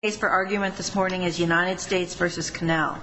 The case for argument this morning is United States v. Cannel.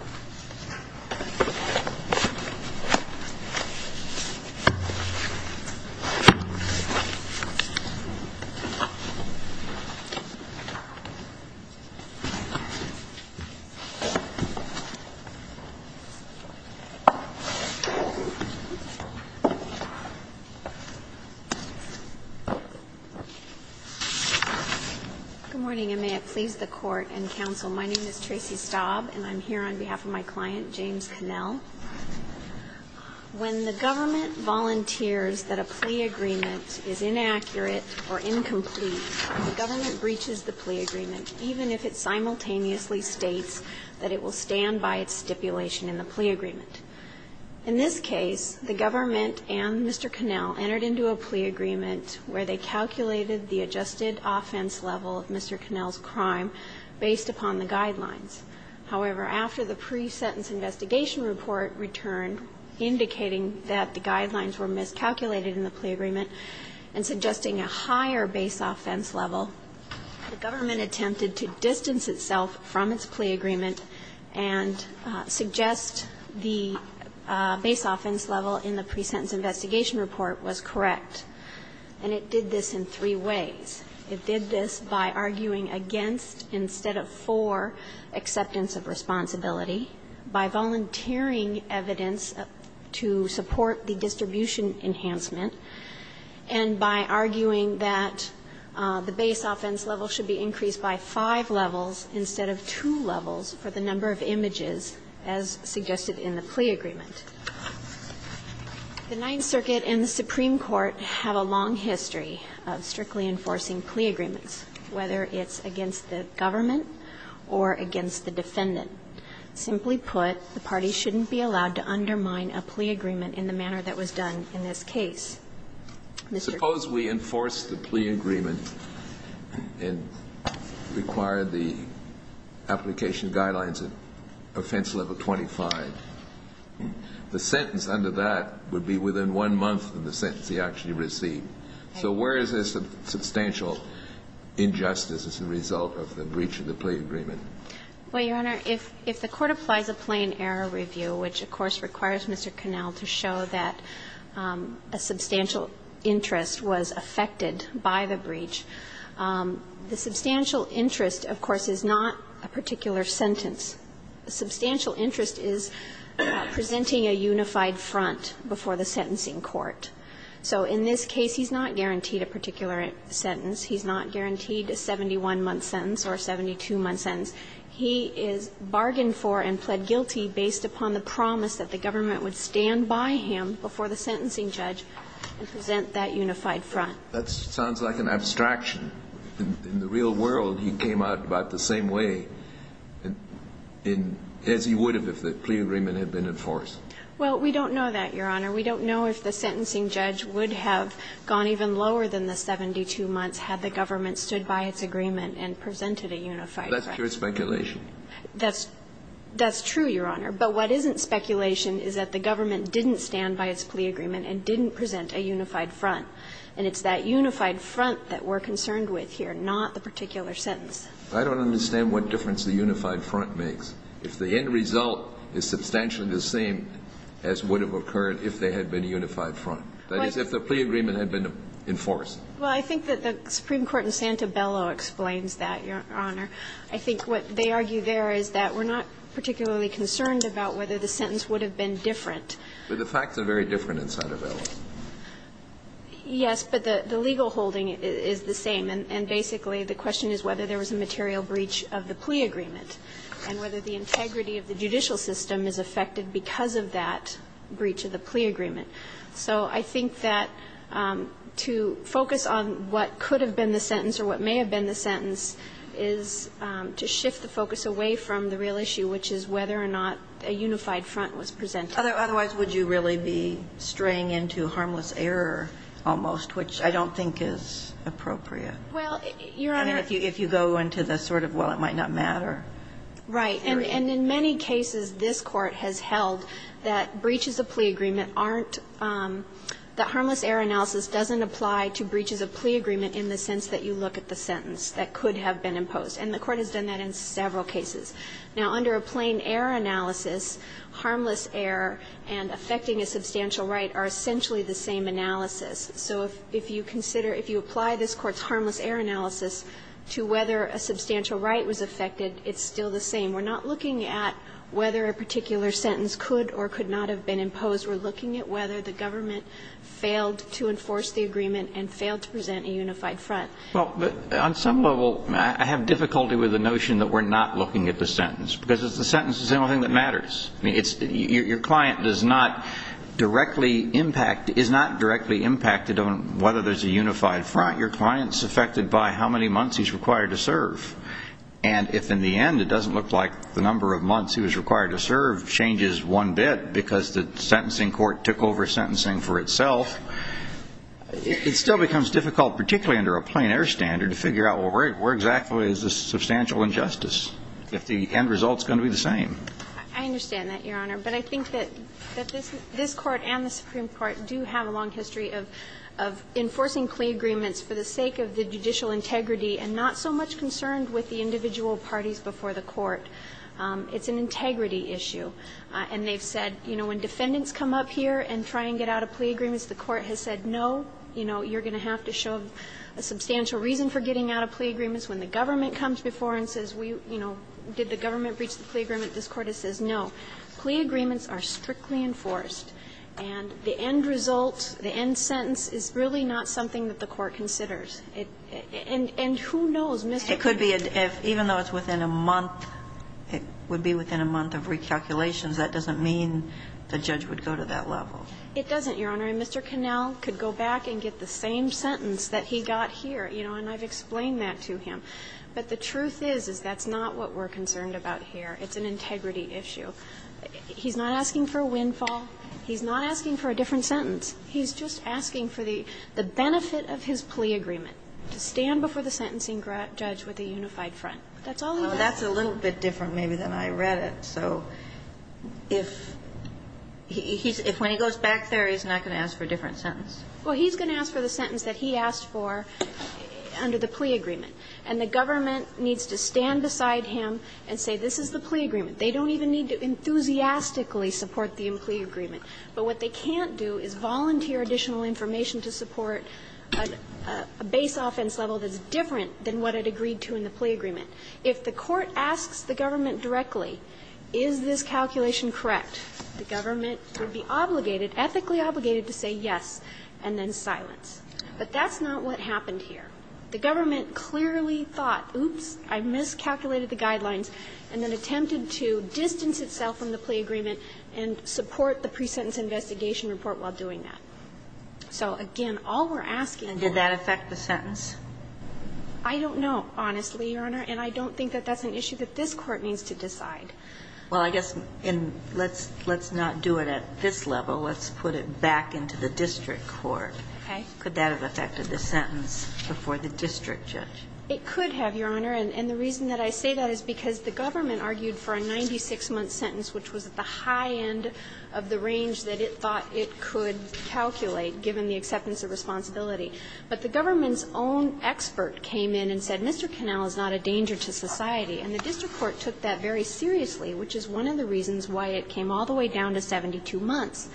Good morning, and may it please the court and counsel, my name is Tracy Staub, and I'm here on behalf of my client, James Cannel. When the government volunteers that a plea agreement is inaccurate or incomplete, the government breaches the plea agreement, even if it simultaneously states that it will stand by its stipulation in the plea agreement. In this case, the government and Mr. Cannel entered into a plea agreement where they calculated the adjusted offense level of Mr. Cannel's crime based upon the guidelines. However, after the pre-sentence investigation report returned, indicating that the guidelines were miscalculated in the plea agreement and suggesting a higher base offense level, the government attempted to distance itself from its plea agreement and suggest the base offense level in the pre-sentence investigation report was correct. And it did this in three ways. It did this by arguing against instead of for acceptance of responsibility, by volunteering evidence to support the distribution enhancement, and by arguing that the base offense level should be increased by five levels instead of two levels for the number of images as suggested in the plea agreement. The Ninth Circuit and the Supreme Court have a long history of strictly enforcing plea agreements, whether it's against the government or against the defendant. Simply put, the parties shouldn't be allowed to undermine a plea agreement in the manner that was done in this case. Suppose we enforce the plea agreement and require the application guidelines at offense level 25. The sentence under that would be within one month of the sentence he actually received. So where is this substantial injustice as a result of the breach of the plea agreement? Well, Your Honor, if the Court applies a plain error review, which, of course, requires Mr. Cannel to show that a substantial interest was affected by the breach, the substantial interest, of course, is not a particular sentence. Substantial interest is presenting a unified front before the sentencing court. So in this case, he's not guaranteed a particular sentence. He's not guaranteed a 71-month sentence or a 72-month sentence. He is bargained for and pled guilty based upon the promise that the government would stand by him before the sentencing judge and present that unified front. That sounds like an abstraction. In the real world, he came out about the same way as he would have if the plea agreement had been enforced. Well, we don't know that, Your Honor. We don't know if the sentencing judge would have gone even lower than the 72 months had the government stood by its agreement and presented a unified front. That's pure speculation. That's true, Your Honor. But what isn't speculation is that the government didn't stand by its plea agreement and didn't present a unified front. And it's that unified front that we're concerned with here, not the particular sentence. I don't understand what difference the unified front makes, if the end result is substantially the same as would have occurred if there had been a unified front, that is, if the plea agreement had been enforced. Well, I think that the Supreme Court in Santabello explains that, Your Honor. I think what they argue there is that we're not particularly concerned about whether But the facts are very different in Santabello. Yes, but the legal holding is the same. And basically the question is whether there was a material breach of the plea agreement and whether the integrity of the judicial system is affected because of that breach of the plea agreement. So I think that to focus on what could have been the sentence or what may have been the sentence is to shift the focus away from the real issue, which is whether or not a unified front was presented. Otherwise, would you really be straying into harmless error almost, which I don't think is appropriate. Well, Your Honor. I mean, if you go into the sort of, well, it might not matter. Right. And in many cases, this Court has held that breaches of plea agreement aren't the harmless error analysis doesn't apply to breaches of plea agreement in the sense that you look at the sentence that could have been imposed. And the Court has done that in several cases. Now, under a plain error analysis, harmless error and affecting a substantial right are essentially the same analysis. So if you consider, if you apply this Court's harmless error analysis to whether a substantial right was affected, it's still the same. We're not looking at whether a particular sentence could or could not have been imposed. We're looking at whether the government failed to enforce the agreement and failed to present a unified front. Well, on some level, I have difficulty with the notion that we're not looking at the sentence, because the sentence is the only thing that matters. I mean, your client does not directly impact, is not directly impacted on whether there's a unified front. Your client's affected by how many months he's required to serve. And if, in the end, it doesn't look like the number of months he was required to serve changes one bit because the sentencing court took over sentencing for itself, it still becomes difficult, particularly under a plain error standard, to figure out, well, where exactly is this substantial injustice, if the end result is going to be the same? I understand that, Your Honor. But I think that this Court and the Supreme Court do have a long history of enforcing plea agreements for the sake of the judicial integrity and not so much concerned with the individual parties before the Court. It's an integrity issue. And they've said, you know, when defendants come up here and try and get out of plea agreements, the Court has said, no, you know, you're going to have to show a substantial reason for getting out of plea agreements. When the government comes before and says, we, you know, did the government breach the plea agreement, this Court has said, no. Plea agreements are strictly enforced. And the end result, the end sentence is really not something that the Court considers. And who knows, Mr. Kennedy? It could be, even though it's within a month, it would be within a month of recalculations, that doesn't mean the judge would go to that level. It doesn't, Your Honor. I mean, Mr. Connell could go back and get the same sentence that he got here, you know, and I've explained that to him. But the truth is, is that's not what we're concerned about here. It's an integrity issue. He's not asking for a windfall. He's not asking for a different sentence. He's just asking for the benefit of his plea agreement, to stand before the sentencing judge with a unified front. That's all he does. That's a little bit different maybe than I read it. So if he's – if when he goes back there, he's not going to ask for a different sentence? Well, he's going to ask for the sentence that he asked for under the plea agreement. And the government needs to stand beside him and say, this is the plea agreement. They don't even need to enthusiastically support the plea agreement. But what they can't do is volunteer additional information to support a base offense level that's different than what it agreed to in the plea agreement. If the court asks the government directly, is this calculation correct, the government would be obligated, ethically obligated, to say yes and then silence. But that's not what happened here. The government clearly thought, oops, I miscalculated the guidelines, and then attempted to distance itself from the plea agreement and support the pre-sentence investigation report while doing that. So, again, all we're asking here – And did that affect the sentence? I don't know, honestly, Your Honor. And I don't think that that's an issue that this Court needs to decide. Well, I guess in – let's not do it at this level. Let's put it back into the district court. Okay. Could that have affected the sentence before the district judge? It could have, Your Honor. And the reason that I say that is because the government argued for a 96-month sentence, which was at the high end of the range that it thought it could calculate, given the acceptance of responsibility. But the government's own expert came in and said, Mr. Cannell is not a danger to society. And the district court took that very seriously, which is one of the reasons why it came all the way down to 72 months.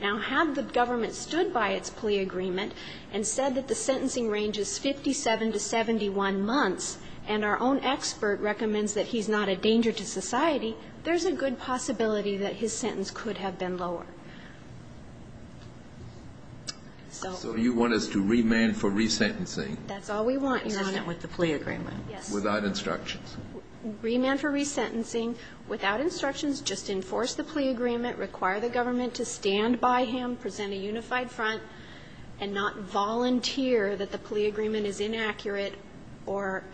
Now, had the government stood by its plea agreement and said that the sentencing range is 57 to 71 months, and our own expert recommends that he's not a danger to society, there's a good possibility that his sentence could have been lower. So you want us to remand for resentencing? That's all we want, Your Honor. With the plea agreement. Without instructions. Remand for resentencing, without instructions, just enforce the plea agreement, require the government to stand by him, present a unified front, and not volunteer that the plea agreement is inaccurate or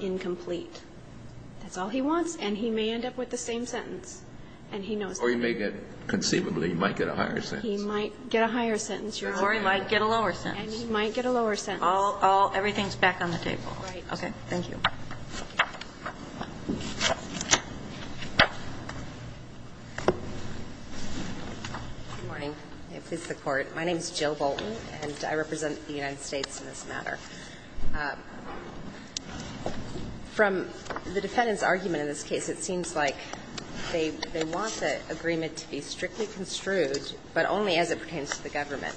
incomplete. That's all he wants, and he may end up with the same sentence, and he knows that. Or he may get, conceivably, he might get a higher sentence. He might get a higher sentence. Or he might get a lower sentence. And he might get a lower sentence. All of everything is back on the table. Right. Okay. Thank you. Good morning. May it please the Court. My name is Jill Bolton, and I represent the United States in this matter. From the defendant's argument in this case, it seems like they want to agree to a reasonable agreement to be strictly construed, but only as it pertains to the government.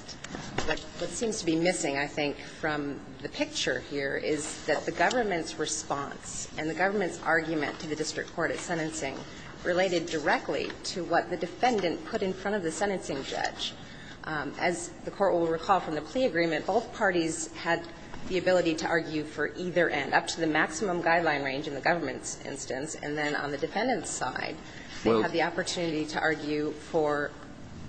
What seems to be missing, I think, from the picture here is that the government's response and the government's argument to the district court at sentencing related directly to what the defendant put in front of the sentencing judge. As the Court will recall from the plea agreement, both parties had the ability to argue for either end, up to the maximum guideline range in the government's side. They have the opportunity to argue for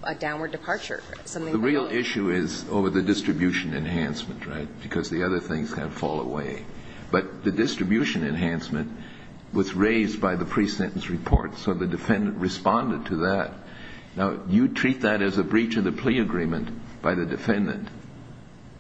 a downward departure. The real issue is over the distribution enhancement, right? Because the other things kind of fall away. But the distribution enhancement was raised by the pre-sentence report. So the defendant responded to that. Now, you treat that as a breach of the plea agreement by the defendant.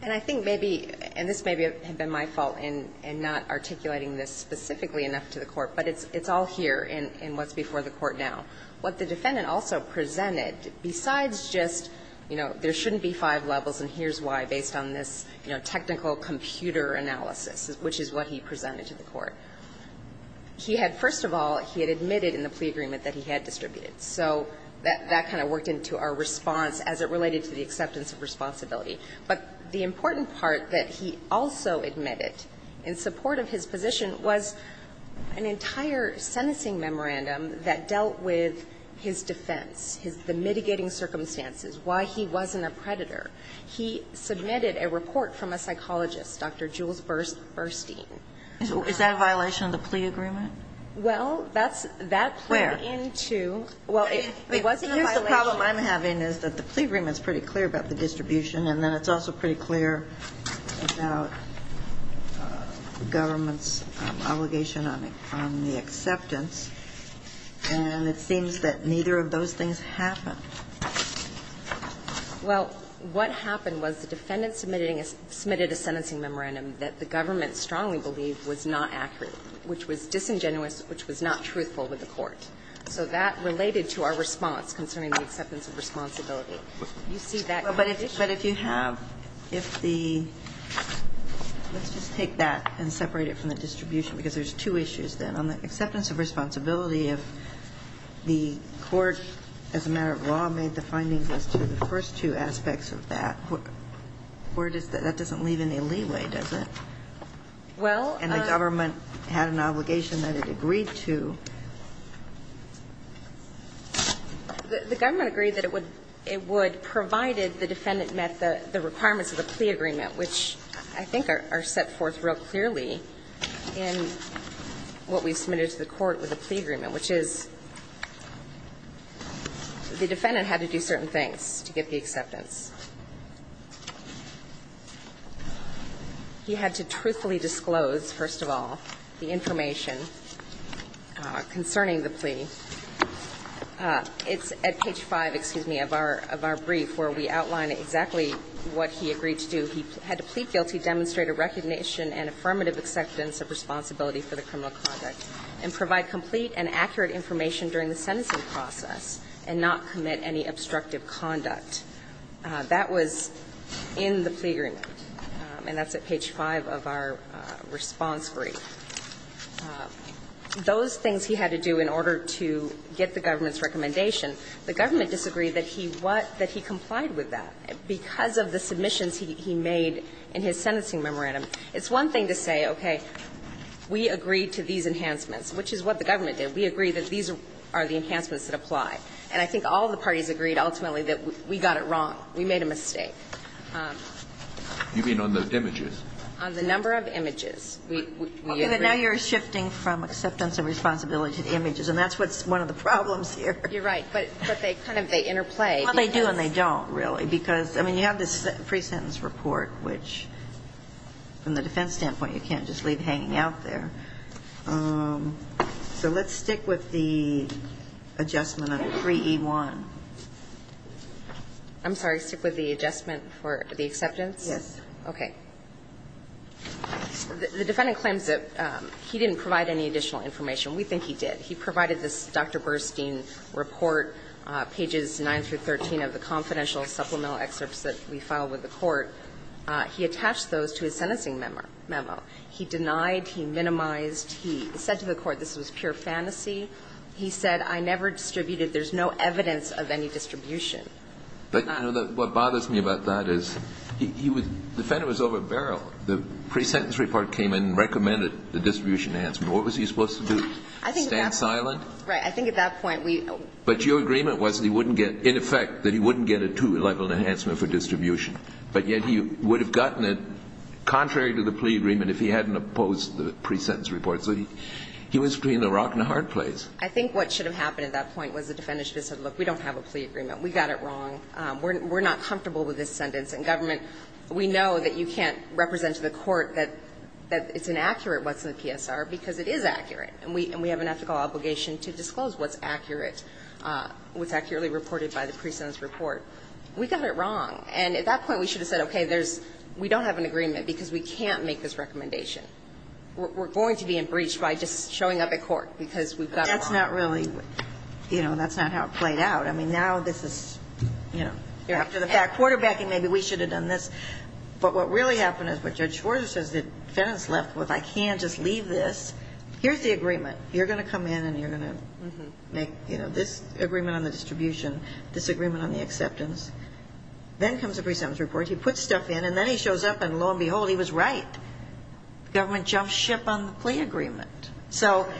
And I think maybe, and this maybe had been my fault in not articulating this specifically enough to the Court, but it's all here in what's before the Court now. What the defendant also presented, besides just, you know, there shouldn't be five levels and here's why, based on this, you know, technical computer analysis, which is what he presented to the Court. He had, first of all, he had admitted in the plea agreement that he had distributed. So that kind of worked into our response as it related to the acceptance of responsibility. But the important part that he also admitted in support of his position was an entire sentencing memorandum that dealt with his defense, his the mitigating circumstances, why he wasn't a predator. He submitted a report from a psychologist, Dr. Jules Burstein. Is that a violation of the plea agreement? Well, that's that played into. Where? Well, it wasn't a violation. The problem I'm having is that the plea agreement is pretty clear about the distribution and then it's also pretty clear about the government's obligation on the acceptance, and it seems that neither of those things happened. Well, what happened was the defendant submitted a sentencing memorandum that the government strongly believed was not accurate, which was disingenuous, which was not truthful with the Court. So that related to our response concerning the acceptance of responsibility. You see that kind of issue. But if you have, if the – let's just take that and separate it from the distribution, because there's two issues then. On the acceptance of responsibility, if the Court, as a matter of law, made the findings as to the first two aspects of that, where does that – that doesn't leave any leeway, does it? Well, I'm – And the government had an obligation that it agreed to. The government agreed that it would – it would, provided the defendant met the requirements of the plea agreement, which I think are set forth real clearly in what we submitted to the Court with the plea agreement, which is the defendant had to do certain things to get the acceptance. He had to truthfully disclose, first of all, the information, and he had to do certain things to get the acceptance of responsibility. And then he had to do certain things to get the acceptance of responsibility concerning the plea. It's at page 5, excuse me, of our – of our brief where we outline exactly what he agreed to do. He had to plead guilty, demonstrate a recognition and affirmative acceptance of responsibility for the criminal conduct, and provide complete and accurate information during the sentencing process and not commit any obstructive conduct. That was in the plea agreement, and that's at page 5 of our response brief. Those things he had to do in order to get the government's recommendation. The government disagreed that he what – that he complied with that because of the submissions he made in his sentencing memorandum. It's one thing to say, okay, we agree to these enhancements, which is what the government did. We agree that these are the enhancements that apply. And I think all the parties agreed ultimately that we got it wrong. We made a mistake. Kennedy. You mean on those images? On the number of images. We agree. Okay. But now you're shifting from acceptance of responsibility to the images, and that's what's one of the problems here. You're right. But they kind of – they interplay. Well, they do and they don't, really, because, I mean, you have this pre-sentence report, which, from the defense standpoint, you can't just leave hanging out there. So let's stick with the adjustment of 3E1. I'm sorry. Stick with the adjustment for the acceptance? Yes. Okay. The defendant claims that he didn't provide any additional information. We think he did. He provided this Dr. Burstein report, pages 9 through 13 of the confidential supplemental excerpts that we filed with the court. He attached those to his sentencing memo. He denied, he minimized, he said to the court this was pure fantasy. He said, I never distributed, there's no evidence of any distribution. But, you know, what bothers me about that is he was – the defendant was over a barrel. The pre-sentence report came in and recommended the distribution enhancement. What was he supposed to do, stand silent? Right. I think at that point we – But your agreement was that he wouldn't get – in effect, that he wouldn't get a two-level enhancement for distribution. But yet he would have gotten it, contrary to the plea agreement, if he hadn't opposed the pre-sentence report. So he was between a rock and a hard place. I think what should have happened at that point was the defendant should have said, look, we don't have a plea agreement. We got it wrong. We're not comfortable with this sentence. And government, we know that you can't represent to the court that it's inaccurate what's in the PSR, because it is accurate. And we have an ethical obligation to disclose what's accurate. What's accurately reported by the pre-sentence report. We got it wrong. And at that point, we should have said, okay, there's – we don't have an agreement because we can't make this recommendation. We're going to be in breach by just showing up at court because we've got it wrong. That's not really – you know, that's not how it played out. I mean, now this is, you know, after the fact. Quarterbacking, maybe we should have done this. But what really happened is what Judge Schwartz says the defendant's left with, I can't just leave this. Here's the agreement. You're going to come in and you're going to make, you know, this agreement on the distribution, this agreement on the acceptance. Then comes the pre-sentence report. He puts stuff in, and then he shows up, and lo and behold, he was right. Government jumped ship on the plea agreement. So,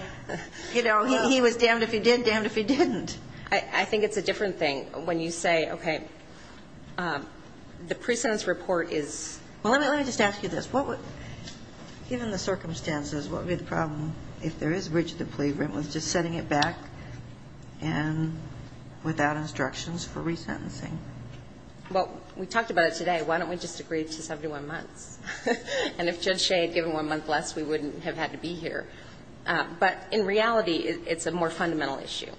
you know, he was damned if he did, damned if he didn't. I think it's a different thing when you say, okay, the pre-sentence report is – Well, let me just ask you this. What would – given the circumstances, what would be the problem if there is breach of the plea agreement with just setting it back and without instructions for re-sentencing? Well, we talked about it today. Why don't we just agree to 71 months? And if Judge Shea had given one month less, we wouldn't have had to be here. But in reality, it's a more fundamental issue.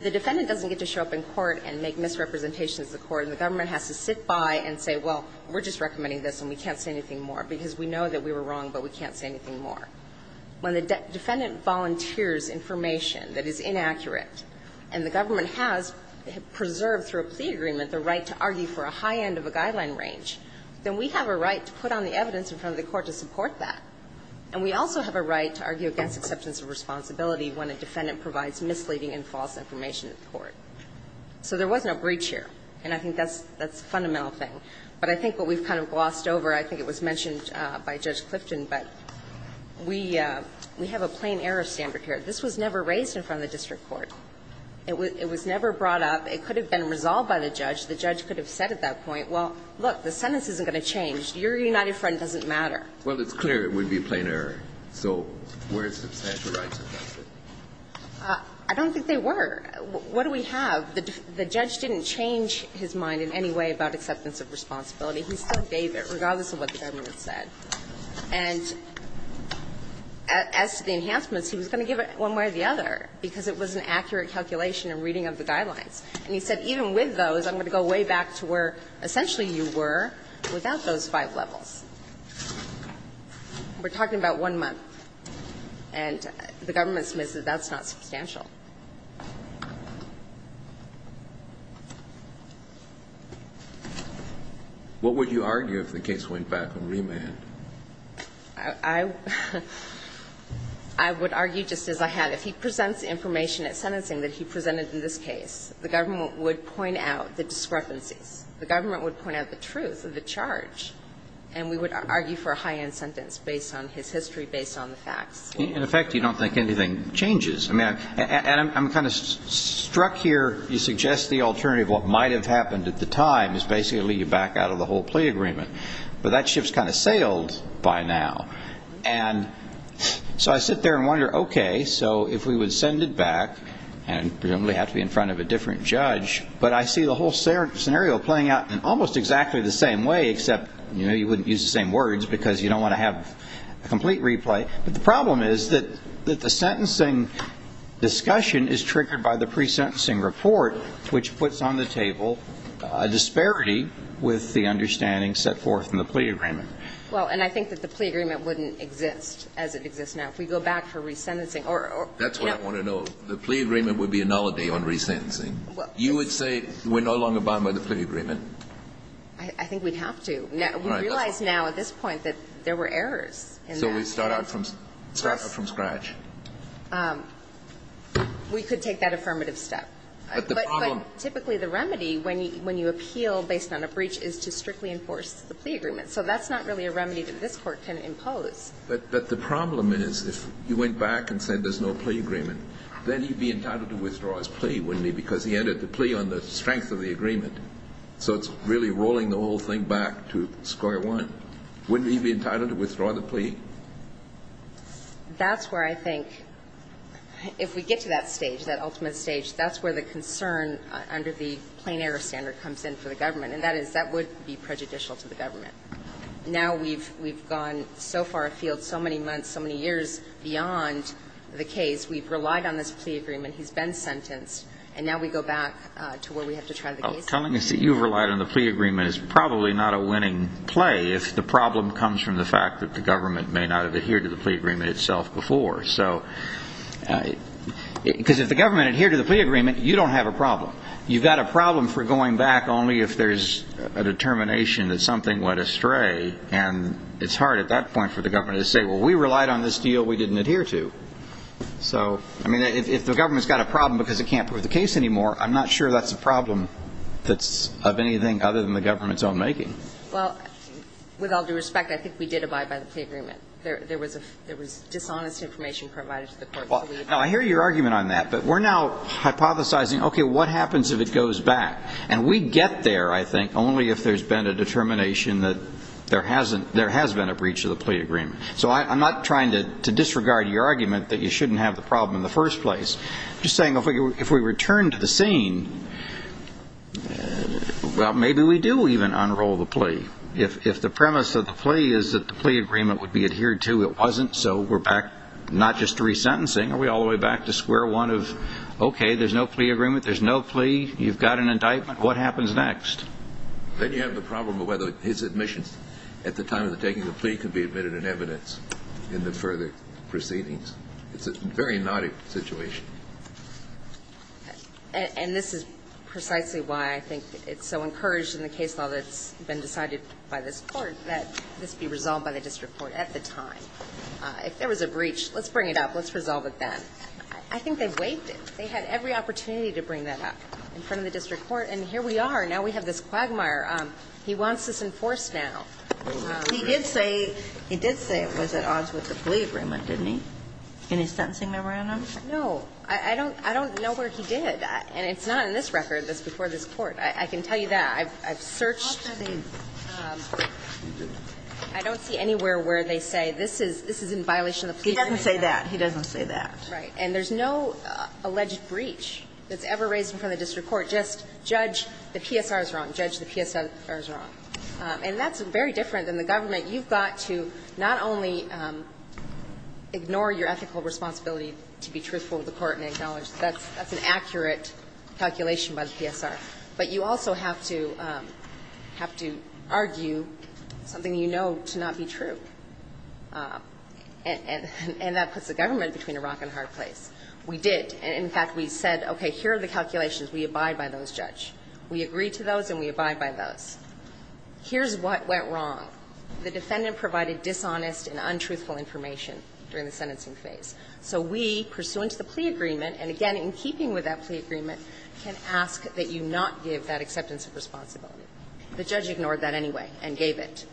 The defendant doesn't get to show up in court and make misrepresentations of the court, and the government has to sit by and say, well, we're just recommending this and we can't say anything more because we know that we were wrong, but we can't say anything more. When the defendant volunteers information that is inaccurate and the government has preserved through a plea agreement the right to argue for a high end of a guideline range, then we have a right to put on the evidence in front of the court to support that. And we also have a right to argue against acceptance of responsibility when a defendant provides misleading and false information to the court. So there was no breach here, and I think that's a fundamental thing. But I think what we've kind of glossed over, I think it was mentioned by Judge Clifton, but we have a plain error standard here. This was never raised in front of the district court. It was never brought up. It could have been resolved by the judge. The judge could have said at that point, well, look, the sentence isn't going to change. Your United Front doesn't matter. Well, it's clear it would be a plain error. So were substantial rights affected? I don't think they were. What do we have? The judge didn't change his mind in any way about acceptance of responsibility. He still gave it, regardless of what the government said. And as to the enhancements, he was going to give it one way or the other, because it was an accurate calculation and reading of the guidelines. And he said, even with those, I'm going to go way back to where, essentially, you were without those five levels. We're talking about one month, and the government admits that that's not substantial. What would you argue if the case went back on remand? I would argue just as I had. If he presents information at sentencing that he presented in this case, the government would point out the discrepancies. The government would point out the truth of the charge. And we would argue for a high-end sentence based on his history, based on the facts. In effect, you don't think anything changes. And I'm kind of struck here. You suggest the alternative of what might have happened at the time is, basically, to leave you back out of the whole plea agreement. But that ship's kind of sailed by now. And so I sit there and wonder, OK, so if we would send it back, and presumably have to be in front of a different judge. But I see the whole scenario playing out in almost exactly the same way, except you wouldn't use the same words, because you don't want to have a complete replay. But the problem is that the sentencing discussion is triggered by the pre-sentencing report, which puts on the table a disparity with the understanding set forth in the plea agreement. Well, and I think that the plea agreement wouldn't exist as it exists now. If we go back for resentencing or, you know. That's what I want to know. The plea agreement would be a nullity on resentencing. You would say we're no longer bound by the plea agreement? I think we'd have to. We realize now, at this point, that there were errors in that. So we start out from scratch. We could take that affirmative step. But typically, the remedy, when you appeal based on a breach, is to strictly enforce the plea agreement. So that's not really a remedy that this Court can impose. But the problem is, if you went back and said there's no plea agreement, then he'd be entitled to withdraw his plea, wouldn't he? Because he entered the plea on the strength of the agreement. So it's really rolling the whole thing back to square one. Wouldn't he be entitled to withdraw the plea? That's where I think, if we get to that stage, that ultimate stage, that's where the concern under the plain error standard comes in for the government. And that is, that would be prejudicial to the government. Now we've gone so far afield, so many months, so many years beyond the case. We've relied on this plea agreement. He's been sentenced. And now we go back to where we have to try the case again. Well, telling us that you've relied on the plea agreement is probably not a winning play, if the problem comes from the fact that the government may not have adhered to the plea agreement itself before. So because if the government adhered to the plea agreement, you don't have a problem. You've got a problem for going back only if there's a determination that something went astray. And it's hard at that point for the government to say, well, we relied on this deal. We didn't adhere to. So I mean, if the government's got a problem because it can't prove the case anymore, I'm not sure that's a problem that's of anything other than the government's own making. Well, with all due respect, I think we did abide by the plea agreement. There was dishonest information provided to the court. Now, I hear your argument on that, but we're now hypothesizing, okay, what happens if it goes back? And we get there, I think, only if there's been a determination that there has been a breach of the plea agreement. So I'm not trying to disregard your argument that you shouldn't have the problem in the first place. I'm just saying, if we return to the scene, well, maybe we do even unroll the plea. If the premise of the plea is that the plea agreement would be adhered to, it wasn't. So we're back not just to resentencing. Are we all the way back to square one of, okay, there's no plea agreement. There's no plea. You've got an indictment. What happens next? Then you have the problem of whether his admissions at the time of taking the plea could be admitted in evidence in the further proceedings. It's a very naughty situation. And this is precisely why I think it's so encouraged in the case law that's been decided by this Court that this be resolved by the district court at the time. If there was a breach, let's bring it up. Let's resolve it then. I think they've waived it. They had every opportunity to bring that up in front of the district court. And here we are. Now we have this quagmire. He wants this enforced now. He did say it was at odds with the plea agreement, didn't he, in his sentencing memorandum? No. I don't know where he did. And it's not in this record. It's before this Court. I can tell you that. I've searched. I don't see anywhere where they say this is in violation of the plea agreement. He doesn't say that. He doesn't say that. Right. And there's no alleged breach that's ever raised in front of the district court. Just judge the PSRs wrong. Judge the PSRs wrong. And that's very different than the government. You've got to not only ignore your ethical responsibility to be truthful to the court and acknowledge that that's an accurate calculation by the PSR, but you also have to argue something you know to not be true. And that puts the government between a rock and a hard place. We did. In fact, we said, okay, here are the calculations. We abide by those, Judge. We agreed to those and we abide by those. Here's what went wrong. The defendant provided dishonest and untruthful information during the sentencing phase. So we, pursuant to the plea agreement, and again, in keeping with that plea agreement, can ask that you not give that acceptance of responsibility. The judge ignored that anyway and gave it.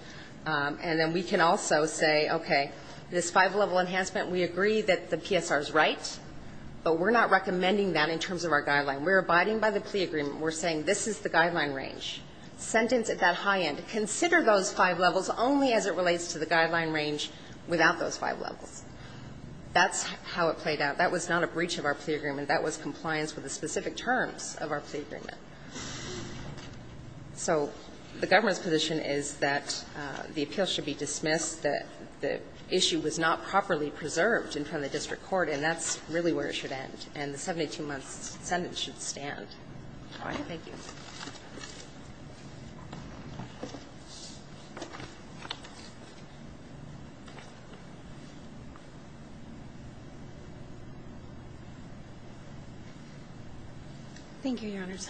And then we can also say, okay, this five-level enhancement, we agree that the PSR is right, but we're not recommending that in terms of our guideline. We're abiding by the plea agreement. We're saying this is the guideline range. Sentence at that high end. Consider those five levels only as it relates to the guideline range without those five levels. That's how it played out. That was not a breach of our plea agreement. That was compliance with the specific terms of our plea agreement. So the government's position is that the appeal should be dismissed, that the issue was not properly preserved in front of the district court, and that's really where it should end, and the 72-month sentence should stand. Thank you. Thank you, Your Honors.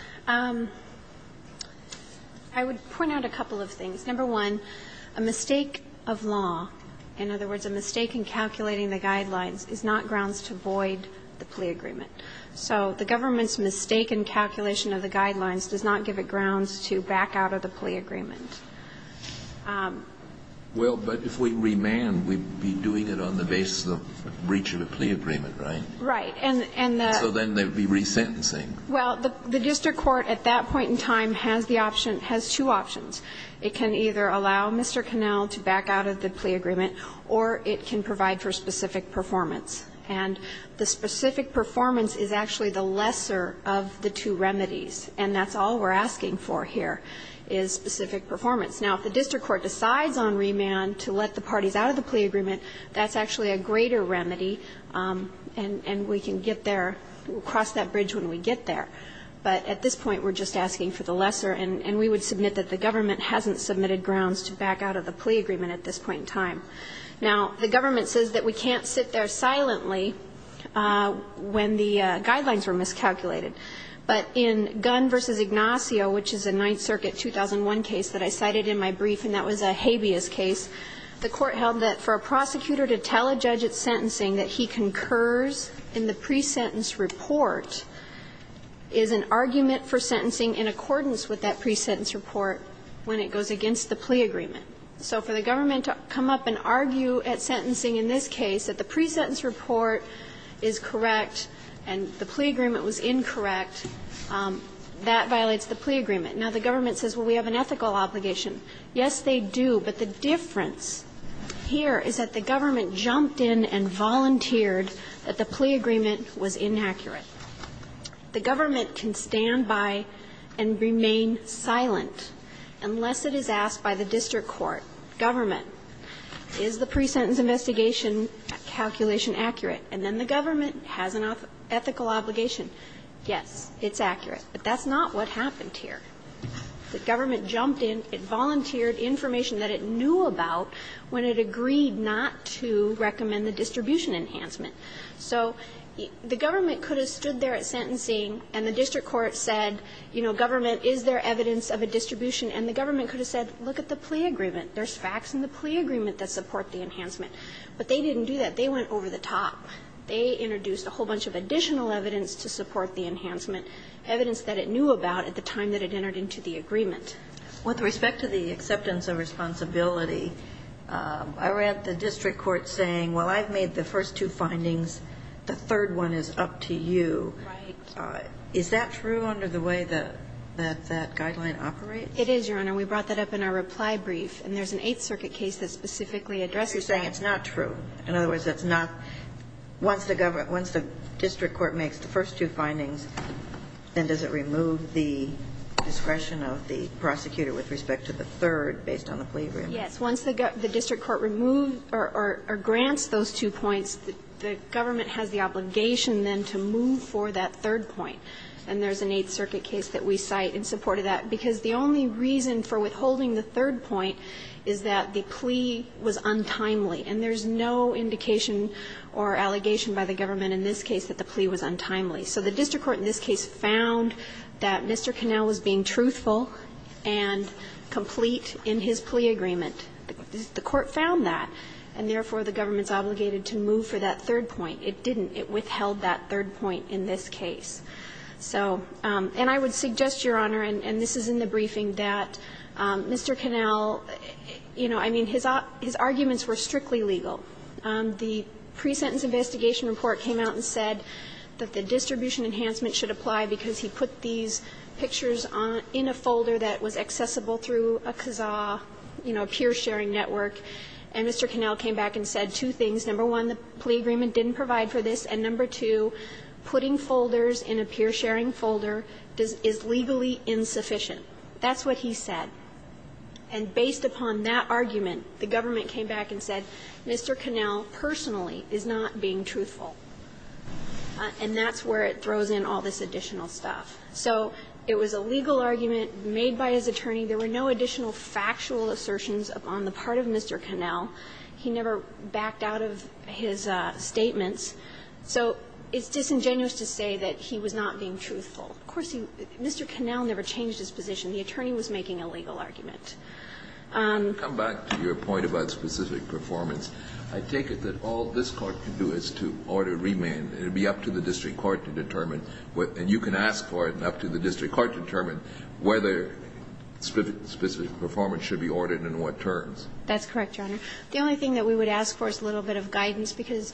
I would point out a couple of things. Number one, a mistake of law, in other words, a mistake in calculating the guidelines, is not grounds to void the plea agreement. So the government's mistake in calculation of the guidelines does not give it grounds to back out of the plea agreement. Well, but if we remand, we'd be doing it on the basis of breach of a plea agreement, right? Right. And the So then they'd be resentencing. Well, the district court at that point in time has the option, has two options. It can either allow Mr. Connell to back out of the plea agreement, or it can provide for specific performance. And the specific performance is actually the lesser of the two remedies, and that's all we're asking for here is specific performance. Now, if the district court decides on remand to let the parties out of the plea agreement, that's actually a greater remedy, and we can get there, cross that bridge when we get there. But at this point, we're just asking for the lesser, and we would submit that the government hasn't submitted grounds to back out of the plea agreement at this point in time. Now, the government says that we can't sit there silently when the guidelines were miscalculated. But in Gunn v. Ignacio, which is a Ninth Circuit 2001 case that I cited in my brief, and that was a habeas case, the Court held that for a prosecutor to tell a judge it's sentencing that he concurs in the pre-sentence report is an argument for sentencing in accordance with that pre-sentence report when it goes against the plea agreement. So for the government to come up and argue at sentencing in this case that the pre-sentence report is correct and the plea agreement was incorrect, that violates the plea agreement. Now, the government says, well, we have an ethical obligation. Yes, they do, but the difference here is that the government jumped in and volunteered that the plea agreement was inaccurate. The government can stand by and remain silent unless it is asked by the district court, government, is the pre-sentence investigation calculation accurate? And then the government has an ethical obligation. Yes, it's accurate, but that's not what happened here. The government jumped in, it volunteered information that it knew about when it agreed not to recommend the distribution enhancement. So the government could have stood there at sentencing and the district court said, you know, government, is there evidence of a distribution, and the government could have said, look at the plea agreement, there's facts in the plea agreement that support the enhancement, but they didn't do that, they went over the top. They introduced a whole bunch of additional evidence to support the enhancement, evidence that it knew about at the time that it entered into the agreement. With respect to the acceptance of responsibility, I read the district court saying, well, I've made the first two findings, the third one is up to you. Right. Is that true under the way that that guideline operates? It is, Your Honor. We brought that up in our reply brief, and there's an Eighth Circuit case that specifically addresses that. You're saying it's not true. In other words, it's not – once the government – once the district court makes the first two findings, then does it remove the discretion of the prosecutor with respect to the third based on the plea agreement? Yes. Once the district court removed or grants those two points, the government has the obligation then to move for that third point. And there's an Eighth Circuit case that we cite in support of that because the only reason for withholding the third point is that the plea was untimely, and there's no indication or allegation by the government in this case that the plea was untimely. So the district court in this case found that Mr. Connell was being truthful and complete in his plea agreement. The court found that, and therefore, the government's obligated to move for that third point. It didn't. It withheld that third point in this case. So – and I would suggest, Your Honor, and this is in the briefing, that Mr. Connell – you know, I mean, his arguments were strictly legal. The pre-sentence investigation report came out and said that the distribution enhancement should apply because he put these pictures on – in a folder that was accessible through a CAZA, you know, a peer-sharing network. And Mr. Connell came back and said two things. Number one, the plea agreement didn't provide for this. And number two, putting folders in a peer-sharing folder is legally insufficient. That's what he said. And based upon that argument, the government came back and said, Mr. Connell personally is not being truthful. And that's where it throws in all this additional stuff. So it was a legal argument made by his attorney. There were no additional factual assertions on the part of Mr. Connell. He never backed out of his statements. So it's disingenuous to say that he was not being truthful. Of course, he – Mr. Connell never changed his position. The attorney was making a legal argument. Kennedy. Come back to your point about specific performance. I take it that all this Court can do is to order remand. It would be up to the district court to determine what – and you can ask for it, and up to the district court to determine whether specific performance should be ordered and in what terms. That's correct, Your Honor. The only thing that we would ask for is a little bit of guidance, because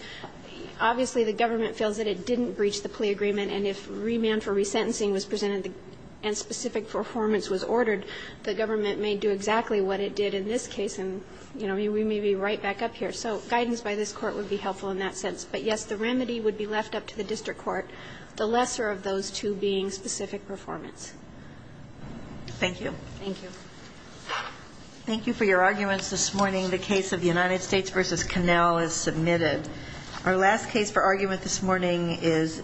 obviously the government feels that it didn't breach the plea agreement, and if remand for resentencing was presented and specific performance was ordered, the government may do exactly what it did in this case, and, you know, we may be right back up here. So guidance by this Court would be helpful in that sense. But, yes, the remedy would be left up to the district court, the lesser of those two being specific performance. Thank you. Thank you. Thank you for your arguments this morning. The case of United States v. Connell is submitted. Our last case for argument this morning is DeVincentes v. Quinn.